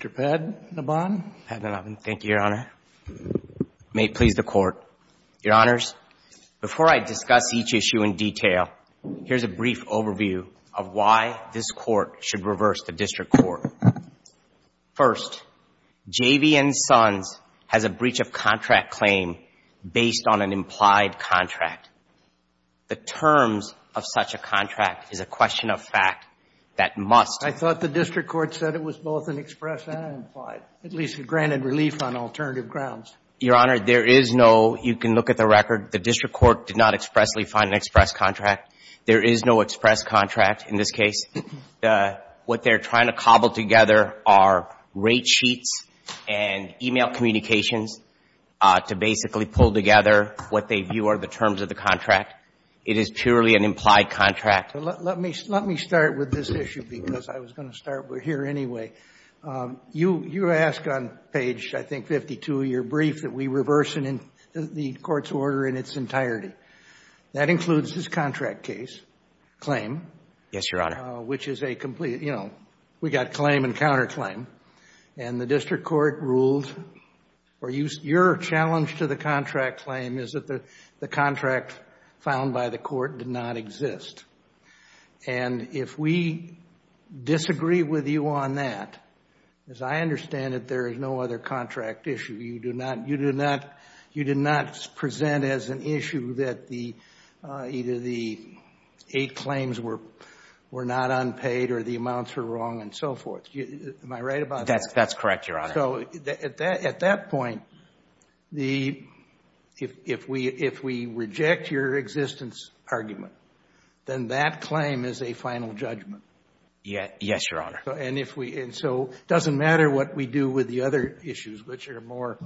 Mr. Padmanabhan. Mr. Padmanabhan. Thank you, Your Honor. May it please the Court. Your Honors, before I discuss each issue in detail, here's a brief overview of why this Court should reverse the District Court. First, J.V. & Sons has a breach of contract claim based on an implied contract. The terms of such a contract is a question of fact that must— At least granted relief on alternative grounds. Your Honor, there is no—you can look at the record. The District Court did not expressly find an express contract. There is no express contract in this case. What they're trying to cobble together are rate sheets and e-mail communications to basically pull together what they view are the terms of the contract. It is purely an implied contract. Let me start with this issue because I was going to start here anyway. You ask on page, I think, 52 of your brief that we reverse the Court's order in its entirety. That includes this contract case claim. Yes, Your Honor. Which is a complete—you know, we got claim and counterclaim. And the District Court ruled—or your challenge to the contract claim is that the contract found by the Court did not exist. And if we disagree with you on that, as I understand it, there is no other contract issue. You do not—you do not present as an issue that either the eight claims were not unpaid or the amounts were wrong and so forth. Am I right about that? That's correct, Your Honor. So at that point, the—if we reject your existence argument, then that claim is a final judgment. Yes, Your Honor. And if we—and so it doesn't matter what we do with the other issues, which are more—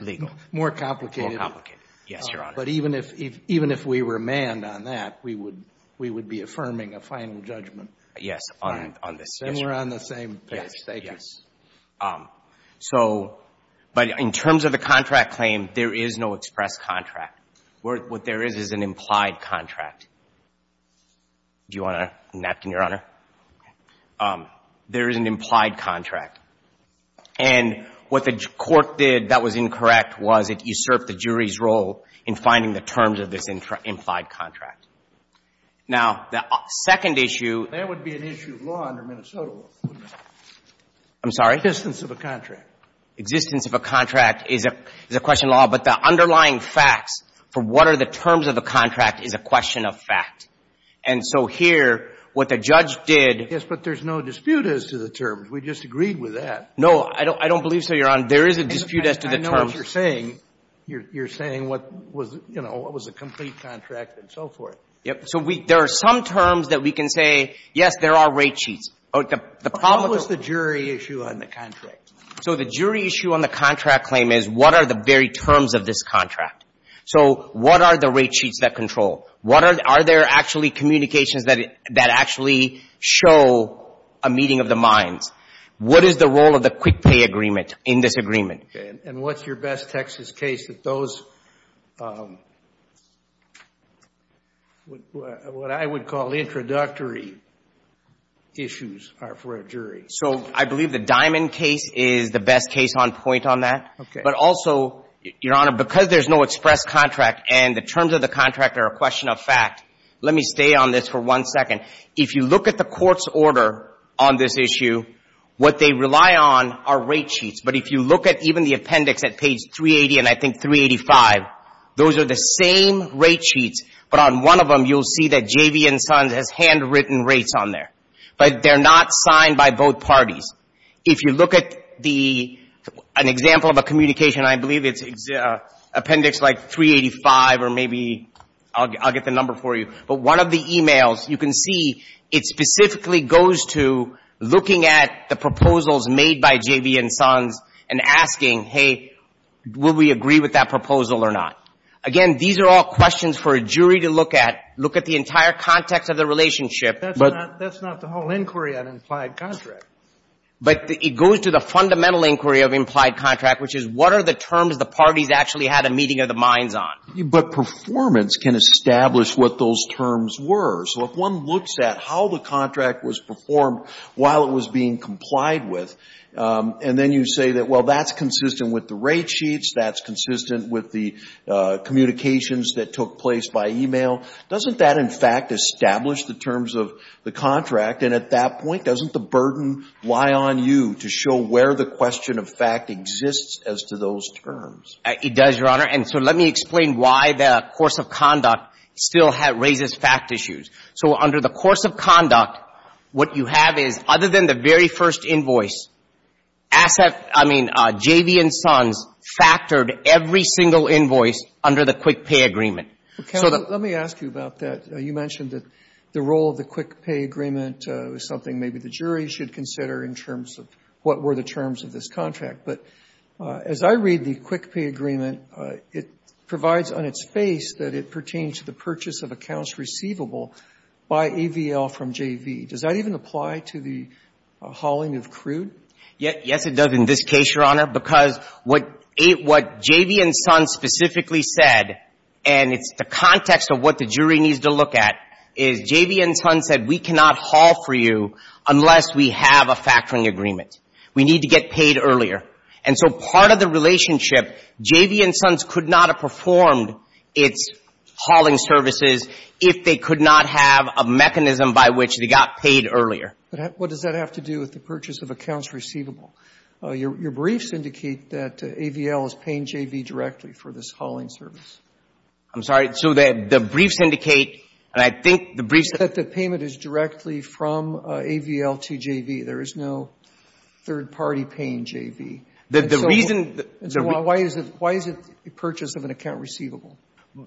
Legal. —more complicated. More complicated, yes, Your Honor. But even if we were manned on that, we would be affirming a final judgment. Yes, on this issue. Then we're on the same page. Yes, thank you. I'm going to go back to my question about the contract claim, and I'm going to try to answer it in a different way than I did in this case. So—but in terms of the contract claim, there is no express contract. What there is is an implied contract. Do you want a napkin, Your Honor? There is an implied contract. And what the Court did that was incorrect was it usurped the jury's role in finding the terms of this implied contract. Now, the second issue— That would be an issue of law under Minnesota law. I'm sorry? Existence of a contract. Existence of a contract is a question of law, but the underlying facts for what are the terms of the contract is a question of fact. And so here, what the judge did— Yes, but there's no dispute as to the terms. We just agreed with that. No, I don't believe so, Your Honor. There is a dispute as to the terms. I know what you're saying. You're saying what was, you know, what was a complete contract and so forth. Yes. So there are some terms that we can say, yes, there are rate cheats. The problem— What was the jury issue on the contract? So the jury issue on the contract claim is what are the very terms of this contract. So what are the rate cheats that control? What are the—are there actually communications that actually show a meeting of the minds? What is the role of the quick pay agreement in this agreement? And what's your best Texas case that those, what I would call introductory issues are for a jury? So I believe the Diamond case is the best case on point on that. Okay. But also, Your Honor, because there's no express contract and the terms of the contract are a question of fact, let me stay on this for one second. If you look at the court's order on this issue, what they rely on are rate cheats. But if you look at even the appendix at page 380 and I think 385, those are the same rate cheats. But on one of them, you'll see that JV and Sons has handwritten rates on there. But they're not signed by both parties. If you look at the, an example of a communication, I believe it's appendix like 385 or maybe I'll get the number for you. But one of the e-mails, you can see it specifically goes to looking at the proposals made by JV and Sons and asking, hey, will we agree with that proposal or not? Again, these are all questions for a jury to look at, look at the entire context of the relationship. But that's not the whole inquiry on implied contract. But it goes to the fundamental inquiry of implied contract, which is what are the terms the parties actually had a meeting of the minds on? But performance can establish what those terms were. So if one looks at how the contract was performed while it was being complied with, and then you say that, well, that's consistent with the rate sheets, that's consistent with the communications that took place by e-mail, doesn't that in fact establish the terms of the contract? And at that point, doesn't the burden lie on you to show where the question of fact exists as to those terms? It does, Your Honor. And so let me explain why the course of conduct still raises fact issues. So under the course of conduct, what you have is, other than the very first invoice, asset, I mean, JV and Sons factored every single invoice under the quick pay agreement. Well, counsel, let me ask you about that. You mentioned that the role of the quick pay agreement was something maybe the jury should consider in terms of what were the terms of this contract. But as I read the quick pay agreement, it provides on its face that it pertains to the purchase of accounts receivable by AVL from JV. Does that even apply to the hauling of crude? Yes, it does in this case, Your Honor, because what JV and Sons specifically said, and it's the context of what the jury needs to look at, is JV and Sons said, we cannot haul for you unless we have a factoring agreement. We need to get paid earlier. And so part of the relationship, JV and Sons could not have performed its hauling services if they could not have a mechanism by which they got paid earlier. But what does that have to do with the purchase of accounts receivable? Your briefs indicate that AVL is paying JV directly for this hauling service. I'm sorry? So the briefs indicate, and I think the briefs indicate that the payment is directly from AVL to JV. There is no third party paying JV. The reason... Why is it the purchase of an account receivable?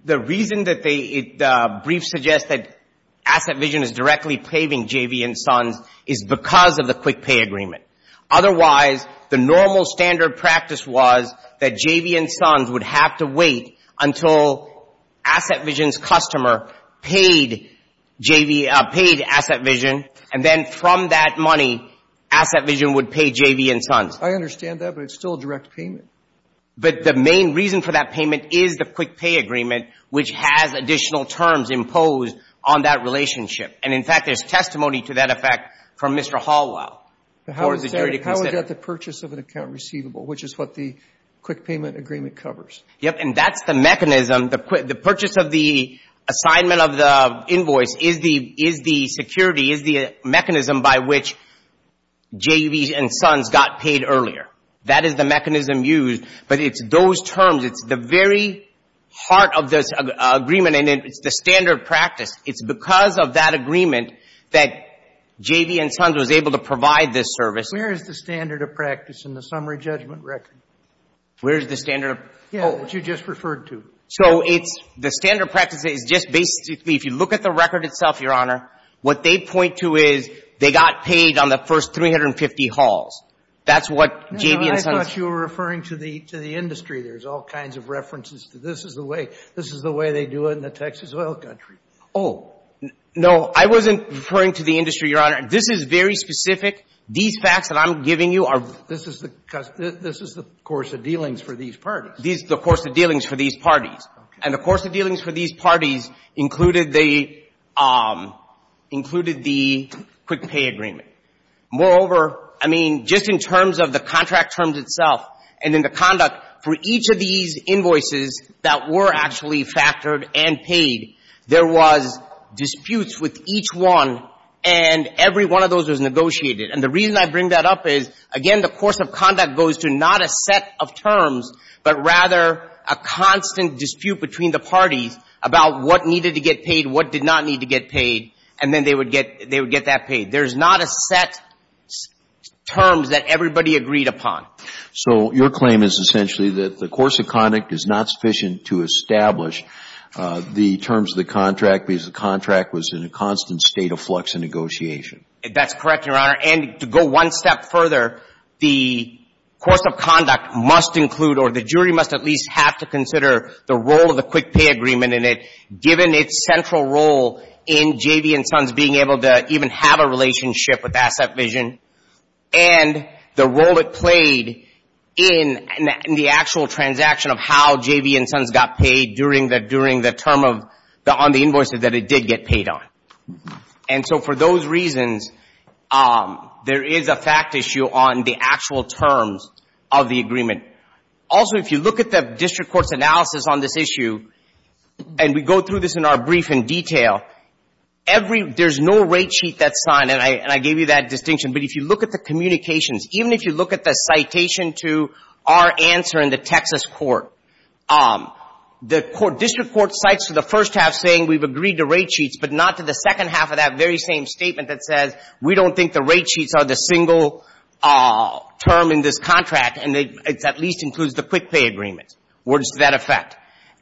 The reason that the brief suggests that AssetVision is directly paving JV and Sons is because of the quick pay agreement. Otherwise, the normal standard practice was that JV and Sons would have to wait until AssetVision's customer paid JV, paid AssetVision. And then from that money, AssetVision would pay JV and Sons. I understand that, but it's still a direct payment. But the main reason for that payment is the quick pay agreement, which has additional terms imposed on that relationship. And, in fact, there's testimony to that effect from Mr. Hallwile for the jury to consider. How is that the purchase of an account receivable, which is what the quick payment agreement covers? And that's the mechanism. The purchase of the assignment of the invoice is the security, is the mechanism by which JV and Sons got paid earlier. That is the mechanism used. But it's those terms. It's the very heart of this agreement, and it's the standard practice. It's because of that agreement that JV and Sons was able to provide this service. Where is the standard of practice in the summary judgment record? Where is the standard? Oh, what you just referred to. So it's the standard practice is just basically, if you look at the record itself, Your Honor, what they point to is they got paid on the first 350 hauls. That's what JV and Sons. I thought you were referring to the industry. There's all kinds of references to this is the way they do it in the Texas oil country. Oh, no, I wasn't referring to the industry, Your Honor. This is very specific. These facts that I'm giving you are. This is the course of dealings for these parties. The course of dealings for these parties. And the course of dealings for these parties included the quick pay agreement. Moreover, I mean, just in terms of the contract terms itself and in the conduct, for each of these invoices that were actually factored and paid, there was disputes with each one, and every one of those was negotiated. And the reason I bring that up is, again, the course of conduct goes to not a set of terms, but rather a constant dispute between the parties about what needed to get paid, what did not need to get paid, and then they would get that paid. There's not a set terms that everybody agreed upon. So your claim is essentially that the course of conduct is not sufficient to establish the terms of the contract because the contract was in a constant state of flux in negotiation. That's correct, Your Honor. To go one step further, the course of conduct must include, or the jury must at least have to consider the role of the quick pay agreement in it, given its central role in JV and Sons being able to even have a relationship with Asset Vision and the role it played in the actual transaction of how JV and Sons got paid during the term on the invoices that it did get paid on. And so for those reasons, there is a fact issue on the actual terms of the agreement. Also, if you look at the district court's analysis on this issue, and we go through this in our brief in detail, there's no rate sheet that's signed, and I gave you that distinction, but if you look at the communications, even if you look at the citation to our answer in the Texas court, the district court cites the first half saying we've agreed to rate sheets, and the second half of that very same statement that says we don't think the rate sheets are the single term in this contract, and it at least includes the quick pay agreement where it's to that effect.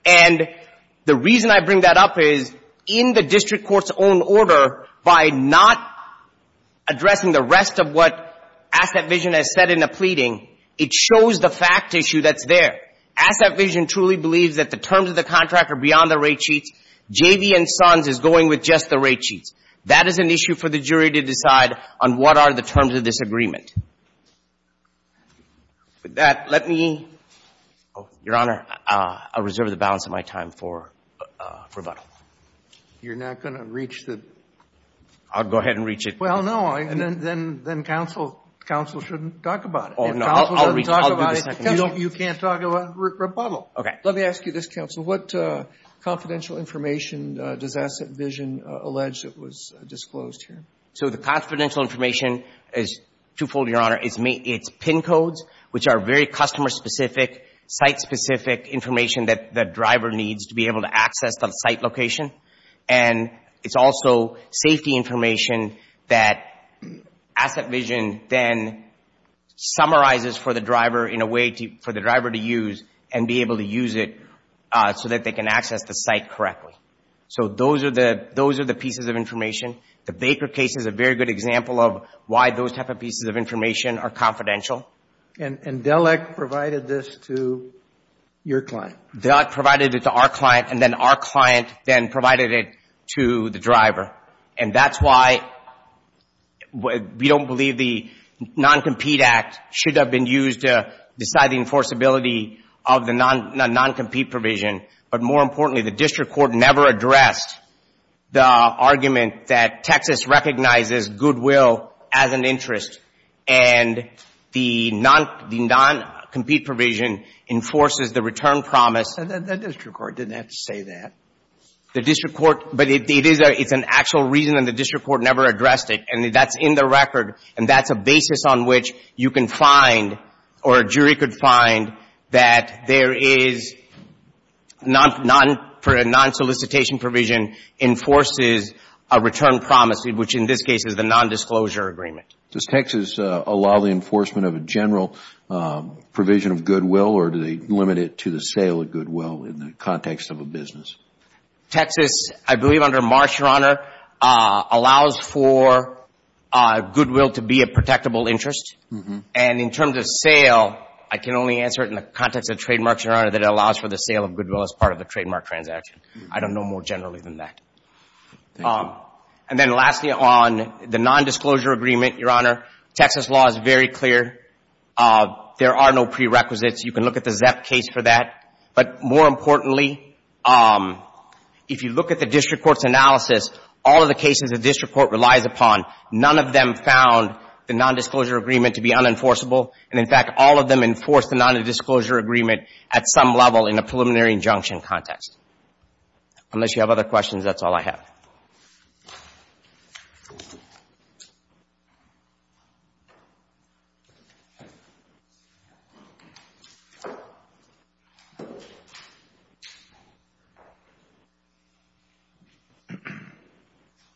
And the reason I bring that up is, in the district court's own order, by not addressing the rest of what Asset Vision has said in the pleading, it shows the fact issue that's there. Asset Vision truly believes that the terms of the contract are beyond the rate sheets. JV and Sons is going with just the rate sheets. That is an issue for the jury to decide on what are the terms of this agreement. With that, let me go. Your Honor, I'll reserve the balance of my time for rebuttal. You're not going to reach the? I'll go ahead and reach it. Well, no, then counsel shouldn't talk about it. Oh, no, I'll reach. I'll do the second. You can't talk about rebuttal. Okay. Let me ask you this, counsel. What confidential information does Asset Vision allege that was disclosed here? So the confidential information is twofold, Your Honor. It's PIN codes, which are very customer-specific, site-specific information that the driver needs to be able to access the site location. And it's also safety information that Asset Vision then summarizes for the driver in a so that they can access the site correctly. So those are the pieces of information. The Baker case is a very good example of why those type of pieces of information are confidential. And DELEC provided this to your client? DELEC provided it to our client, and then our client then provided it to the driver. And that's why we don't believe the Non-Compete Act should have been used to decide the non-compete provision. But more importantly, the district court never addressed the argument that Texas recognizes goodwill as an interest, and the non-compete provision enforces the return promise. The district court didn't have to say that. The district court, but it's an actual reason, and the district court never addressed it. And that's in the record, and that's a basis on which you can find, or a jury could find, that there is, for a non-solicitation provision, enforces a return promise, which in this case is the non-disclosure agreement. Does Texas allow the enforcement of a general provision of goodwill, or do they limit it to the sale of goodwill in the context of a business? Texas, I believe under Marsh, Your Honor, allows for goodwill to be a protectable interest. And in terms of sale, I can only answer it in the context of trademarks, Your Honor, that it allows for the sale of goodwill as part of the trademark transaction. I don't know more generally than that. And then lastly, on the non-disclosure agreement, Your Honor, Texas law is very clear. There are no prerequisites. You can look at the ZEP case for that. But more importantly, if you look at the district court's analysis, all of the cases the district court relies upon, none of them found the non-disclosure agreement to be unenforceable. And in fact, all of them enforce the non-disclosure agreement at some level in a preliminary injunction context. Unless you have other questions, that's all I have.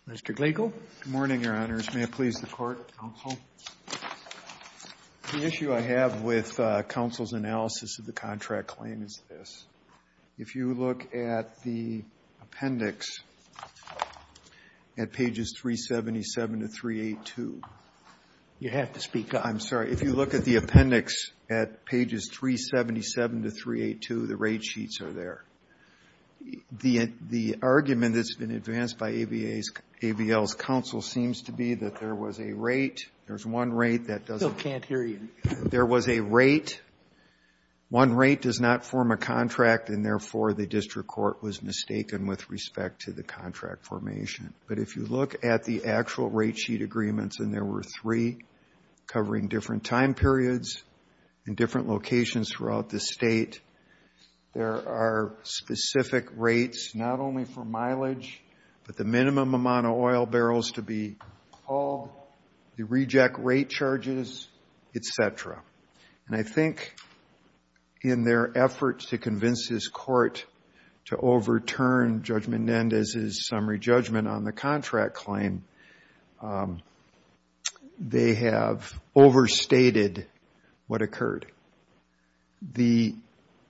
Mr. Gliegel. Good morning, Your Honors. May it please the Court, counsel. The issue I have with counsel's analysis of the contract claim is this. If you look at the appendix at pages 377 to 382. You have to speak up. I'm sorry. If you look at the appendix at pages 377 to 382, the rate sheets are there. The argument that's been advanced by AVL's counsel seems to be that there was a rate. There's one rate that doesn't. Still can't hear you. There was a rate. One rate does not form a contract, and therefore, the district court was mistaken with respect to the contract formation. But if you look at the actual rate sheet agreements, and there were three covering different time periods in different locations throughout the state, there are specific rates not only for mileage, but the minimum amount of oil barrels to be hauled, the reject rate charges, et cetera. And I think in their efforts to convince this court to overturn Judgment Nendez's summary judgment on the contract claim, they have overstated what occurred. The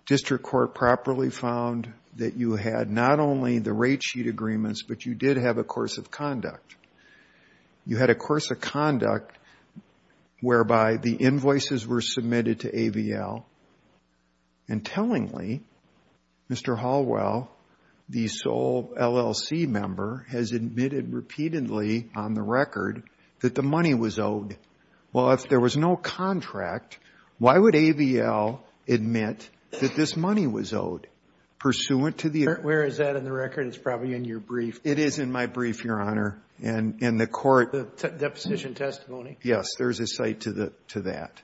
district court properly found that you had not only the rate sheet agreements, but you had a course of conduct whereby the invoices were submitted to AVL. And tellingly, Mr. Hallwell, the sole LLC member, has admitted repeatedly on the record that the money was owed. Well, if there was no contract, why would AVL admit that this money was owed? Pursuant to the Where is that in the record? It's probably in your brief. It is in my brief, Your Honor. In the court The deposition testimony? Yes. There's a cite to that.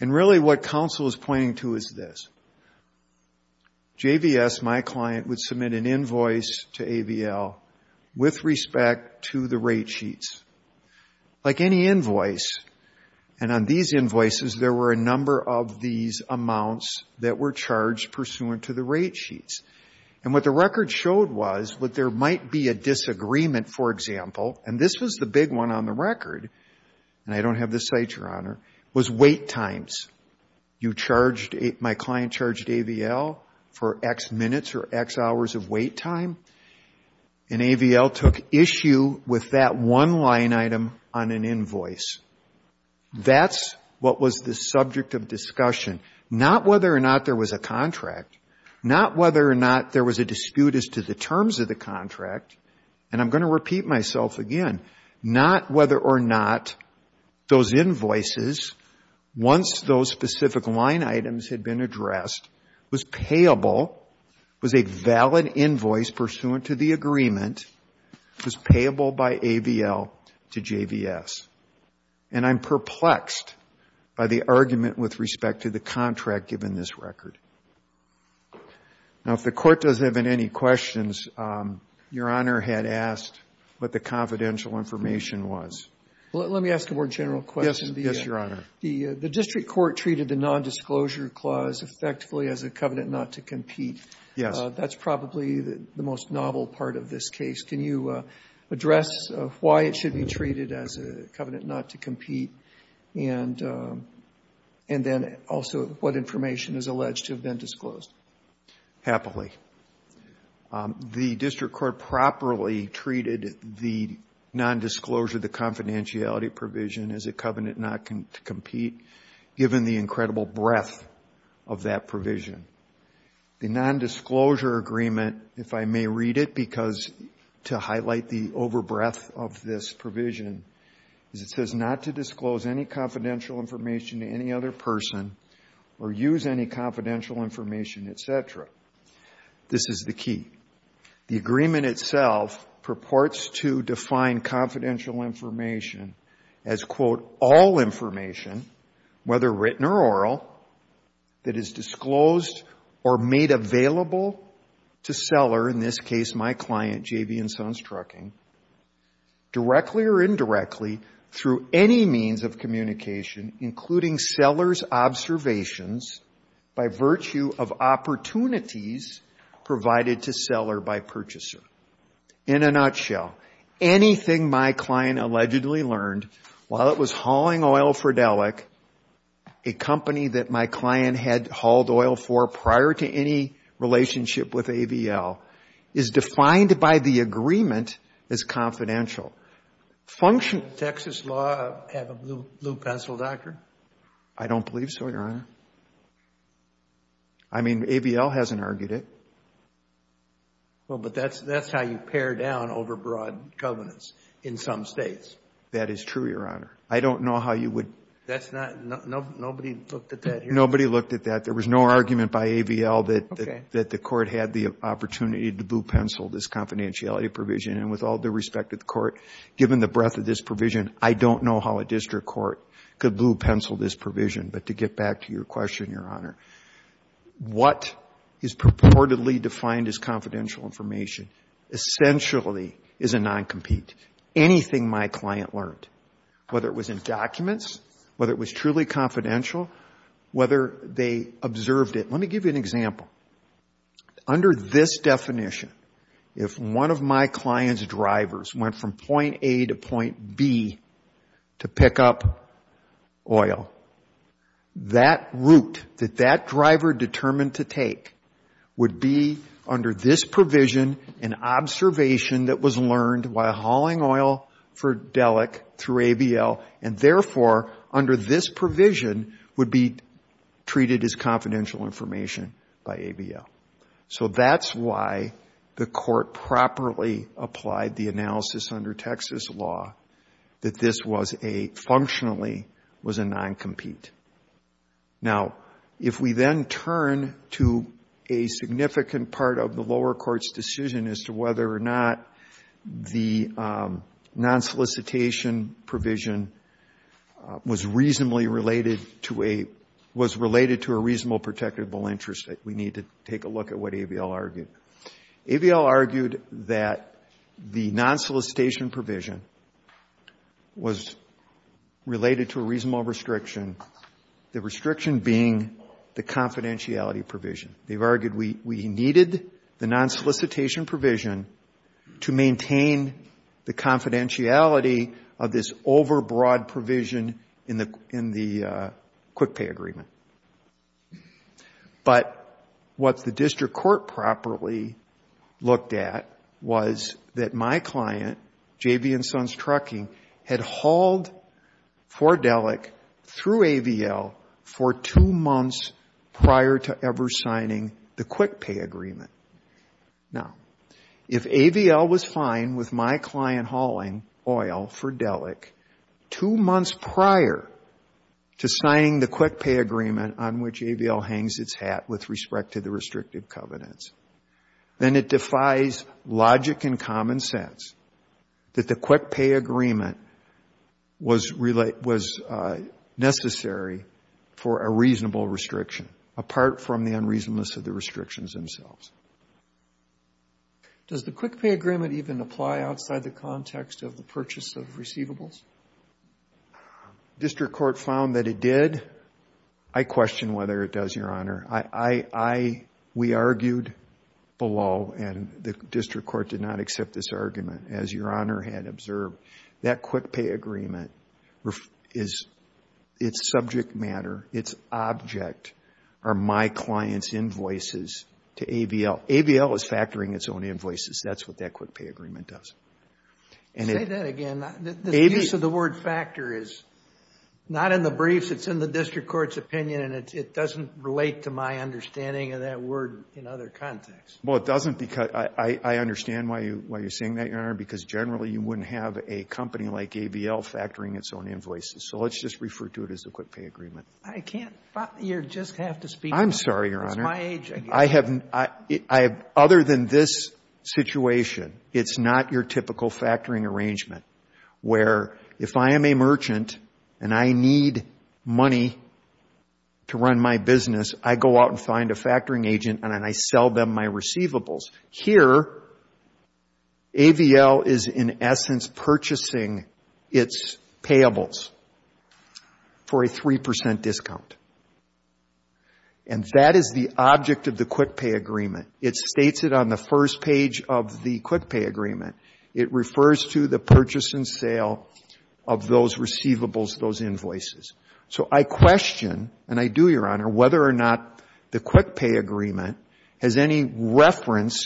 And really what counsel is pointing to is this. JVS, my client, would submit an invoice to AVL with respect to the rate sheets. Like any invoice, and on these invoices, there were a number of these amounts that were charged pursuant to the rate sheets. And what the record showed was that there might be a disagreement, for example, and this was the big one on the record, and I don't have this cite, Your Honor, was wait times. You charged, my client charged AVL for X minutes or X hours of wait time. And AVL took issue with that one line item on an invoice. That's what was the subject of discussion. Not whether or not there was a contract. Not whether or not there was a dispute as to the terms of the contract. And I'm going to repeat myself again. Not whether or not those invoices, once those specific line items had been addressed, was payable, was a valid invoice pursuant to the agreement, was payable by AVL to JVS. And I'm perplexed by the argument with respect to the contract given this record. Now, if the Court doesn't have any questions, Your Honor had asked what the confidential information was. Let me ask a more general question. Yes, Your Honor. The district court treated the nondisclosure clause effectively as a covenant not to compete. Yes. That's probably the most novel part of this case. Can you address why it should be treated as a covenant not to compete and then also what information is alleged to have been disclosed? Happily. The district court properly treated the nondisclosure, the confidentiality provision as a covenant not to compete given the incredible breadth of that provision. The nondisclosure agreement, if I may read it because to highlight the overbreadth of this provision, is it says not to disclose any confidential information to any other person or use any confidential information, et cetera. This is the key. The agreement itself purports to define confidential information as, quote, all or made available to seller, in this case, my client, J.B. and Son's Trucking, directly or indirectly through any means of communication, including seller's observations by virtue of opportunities provided to seller by purchaser. In a nutshell, anything my client allegedly learned while it was hauling oil for prior to any relationship with AVL is defined by the agreement as confidential. Function. Texas law have a blue pencil, Doctor? I don't believe so, Your Honor. I mean, AVL hasn't argued it. Well, but that's how you pare down overbroad covenants in some states. That is true, Your Honor. I don't know how you would. That's not, nobody looked at that here? Nobody looked at that. There was no argument by AVL that the Court had the opportunity to blue pencil this confidentiality provision. And with all due respect to the Court, given the breadth of this provision, I don't know how a district court could blue pencil this provision. But to get back to your question, Your Honor, what is purportedly defined as confidential information essentially is a non-compete. Anything my client learned, whether it was in documents, whether it was truly observed it. Let me give you an example. Under this definition, if one of my client's drivers went from point A to point B to pick up oil, that route that that driver determined to take would be under this provision an observation that was learned while hauling oil for Dellek through AVL. And therefore, under this provision, would be treated as confidential information by AVL. So that's why the Court properly applied the analysis under Texas law that this was a, functionally, was a non-compete. Now, if we then turn to a significant part of the lower court's decision as to whether or not the non-solicitation provision was reasonably related to a, was related to a reasonable protectable interest, we need to take a look at what AVL argued. AVL argued that the non-solicitation provision was related to a reasonable restriction, the restriction being the confidentiality provision. They've argued we needed the non-solicitation provision to maintain the confidentiality of this overbroad provision in the quick pay agreement. But what the district court properly looked at was that my client, JV and Sons Trucking, had hauled for Dellek through AVL for two months prior to ever signing the quick pay agreement. Now, if AVL was fine with my client hauling oil for Dellek two months prior to signing the quick pay agreement on which AVL hangs its hat with respect to the restrictive covenants, then it defies logic and common sense that the quick pay agreement was necessary for a reasonable restriction, apart from the unreasonableness of the restrictions themselves. Does the quick pay agreement even apply outside the context of the purchase of receivables? District court found that it did. I question whether it does, Your Honor. We argued below, and the district court did not accept this argument. As Your Honor had observed, that quick pay agreement, its subject matter, its object are my client's invoices to AVL. AVL is factoring its own invoices. That's what that quick pay agreement does. Say that again. The use of the word factor is not in the briefs. It's in the district court's opinion, and it doesn't relate to my understanding of that word in other contexts. Well, it doesn't because I understand why you're saying that, Your Honor, because generally you wouldn't have a company like AVL factoring its own invoices. So let's just refer to it as a quick pay agreement. I can't. You just have to speak. I'm sorry, Your Honor. It's my age. I have, other than this situation, it's not your typical factoring arrangement, where if I am a merchant and I need money to run my business, I go out and find a factoring agent, and then I sell them my receivables. Here, AVL is in essence purchasing its payables for a 3 percent discount. And that is the object of the quick pay agreement. It states it on the first page of the quick pay agreement. It refers to the purchase and sale of those receivables, those invoices. So I question, and I do, Your Honor, whether or not the quick pay agreement has any reference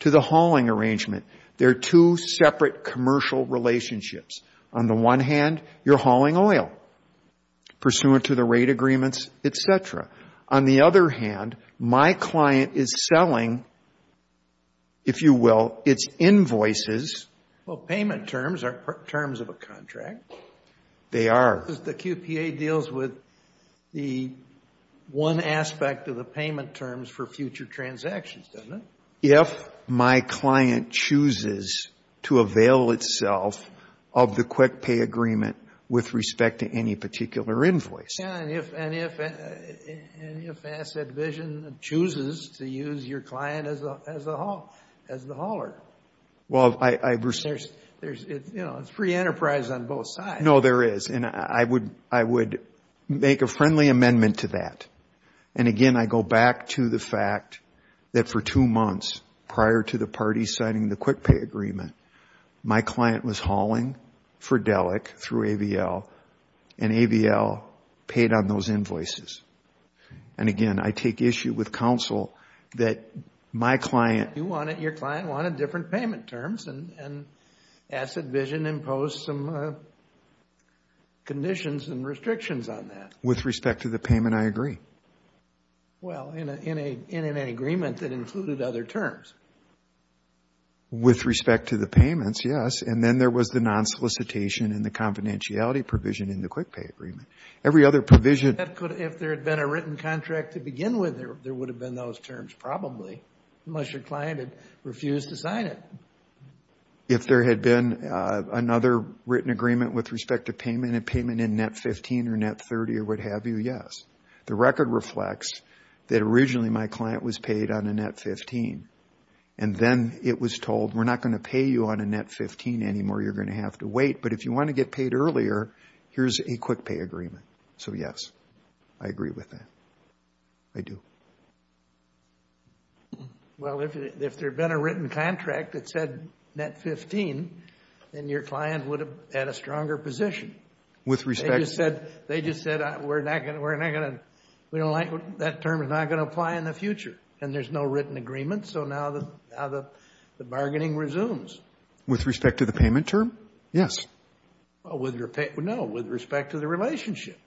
to the hauling arrangement. There are two separate commercial relationships. On the one hand, you're hauling oil, pursuant to the rate agreements, et cetera. On the other hand, my client is selling, if you will, its invoices. Well, payment terms are terms of a contract. They are. The QPA deals with the one aspect of the payment terms for future transactions, doesn't it? If my client chooses to avail itself of the quick pay agreement with respect to any particular invoice. Yeah, and if Asset Vision chooses to use your client as the hauler. Well, I... There's, you know, it's free enterprise on both sides. No, there is. And I would make a friendly amendment to that. And again, I go back to the fact that for two months prior to the parties signing the quick pay agreement, my client was hauling Fridelic through AVL, and AVL paid on those invoices. And again, I take issue with counsel that my client... You wanted, your client wanted different payment terms, and Asset Vision imposed some conditions and restrictions on that. With respect to the payment, I agree. Well, in an agreement that included other terms. With respect to the payments, yes. And then there was the non-solicitation and the confidentiality provision in the quick pay agreement. Every other provision... If there had been a written contract to begin with, there would have been those terms, probably. Unless your client had refused to sign it. If there had been another written agreement with respect to payment and payment in net 15 or net 30 or what have you, yes. The record reflects that originally my client was paid on a net 15. And then it was told, we're not going to pay you on a net 15 anymore. You're going to have to wait. But if you want to get paid earlier, here's a quick pay agreement. So yes, I agree with that. I do. Well, if there had been a written contract that said net 15, then your client would have had a stronger position. With respect to... They just said, that term is not going to apply in the future. And there's no written agreement. So now the bargaining resumes. With respect to the payment term, yes. No, with respect to the relationship,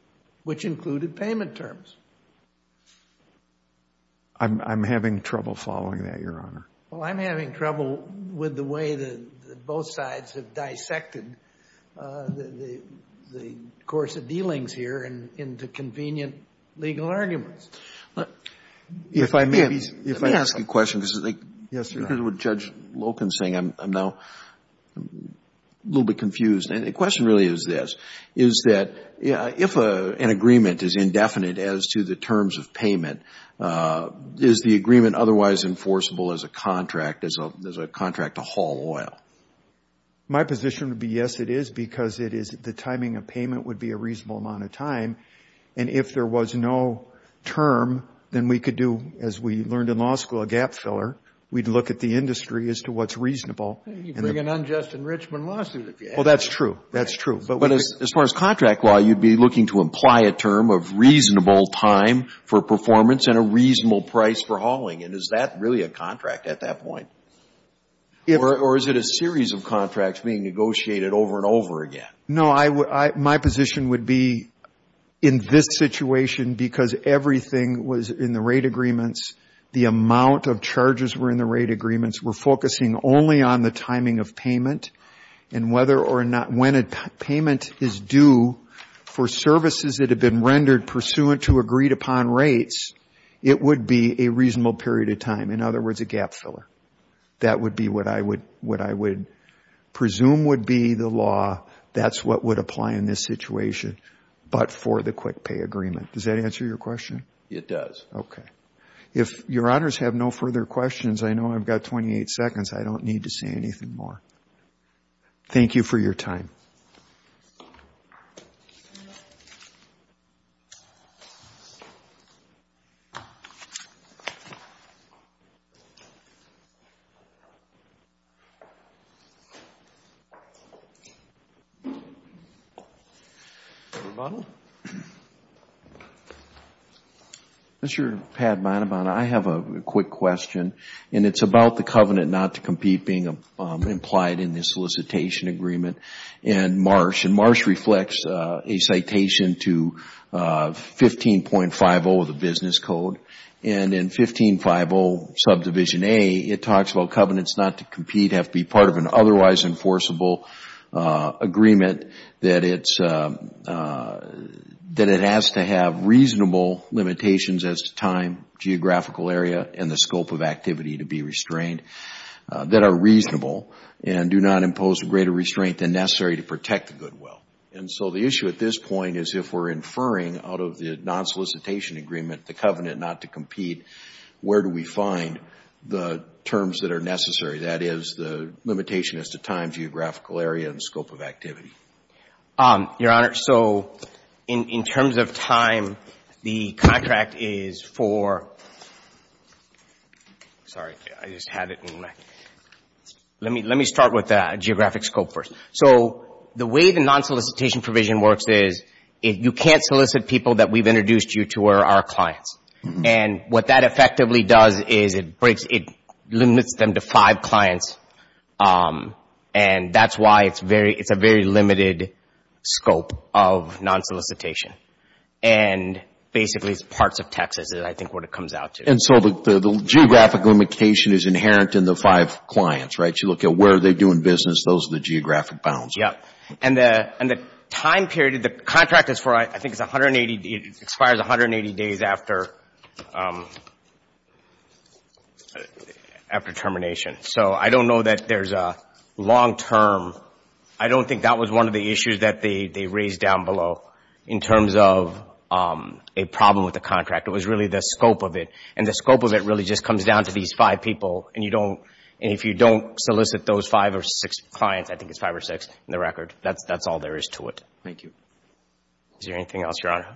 which included payment terms. I'm having trouble following that, Your Honor. Well, I'm having trouble with the way that both sides have dissected the course of dealings here into convenient legal arguments. If I may be... Let me ask you a question, because I think... Yes, Your Honor. With Judge Loken saying, I'm now a little bit confused. And the question really is this. Is that if an agreement is indefinite as to the terms of payment, is the agreement otherwise enforceable as a contract to haul oil? My position would be, yes, it is. Because the timing of payment would be a reasonable amount of time. And if there was no term, then we could do, as we learned in law school, a gap filler. We'd look at the industry as to what's reasonable. You'd bring an unjust enrichment lawsuit if you had to. Well, that's true. That's true. But as far as contract law, you'd be looking to imply a term of reasonable time for performance and a reasonable price for hauling. Is that really a contract at that point? Or is it a series of contracts being negotiated over and over again? No, my position would be in this situation, because everything was in the rate agreements. The amount of charges were in the rate agreements. We're focusing only on the timing of payment. And whether or not, when a payment is due for services that have been rendered pursuant to agreed-upon rates, it would be a reasonable period of time. In other words, a gap filler. That would be what I would presume would be the law. That's what would apply in this situation, but for the quick pay agreement. Does that answer your question? It does. Okay. If your honors have no further questions, I know I've got 28 seconds. I don't need to say anything more. Thank you for your time. Thank you. Mr. Padmanabhan, I have a quick question. And it's about the covenant not to compete being implied in the solicitation agreement and MARSH. And MARSH reflects a citation to 15.50 of the business code. And in 15.50 subdivision A, it talks about covenants not to compete have to be part of an otherwise enforceable agreement that it has to have reasonable limitations as to time, geographical area, and the scope of activity to be restrained that are reasonable and do not impose a greater restraint than necessary to protect the goodwill. And so the issue at this point is if we're inferring out of the non-solicitation agreement the covenant not to compete, where do we find the terms that are necessary? That is, the limitation as to time, geographical area, and scope of activity. Your honor, so in terms of time, the contract is for... Sorry. I just had it in my... Let me start with geographic scope first. So the way the non-solicitation provision works is you can't solicit people that we've introduced you to are our clients. And what that effectively does is it limits them to five clients. And that's why it's a very limited scope of non-solicitation. And basically, it's parts of Texas that I think what it comes out to. And so the geographic limitation is inherent in the five clients, right? You look at where they're doing business, those are the geographic bounds. Yeah. And the time period, the contract is for, I think, it expires 180 days after termination. So I don't know that there's a long-term... In terms of a problem with the contract, it was really the scope of it. And the scope of it really just comes down to these five people. And you don't... And if you don't solicit those five or six clients, I think it's five or six in the record, that's all there is to it. Thank you. Is there anything else, Your Honor?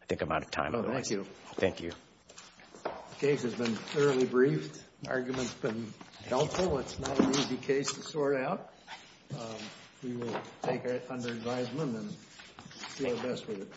I think I'm out of time. No, thank you. Thank you. The case has been thoroughly briefed. Arguments have been helpful. It's not an easy case to sort out. We will take it under advisement and do our best with it.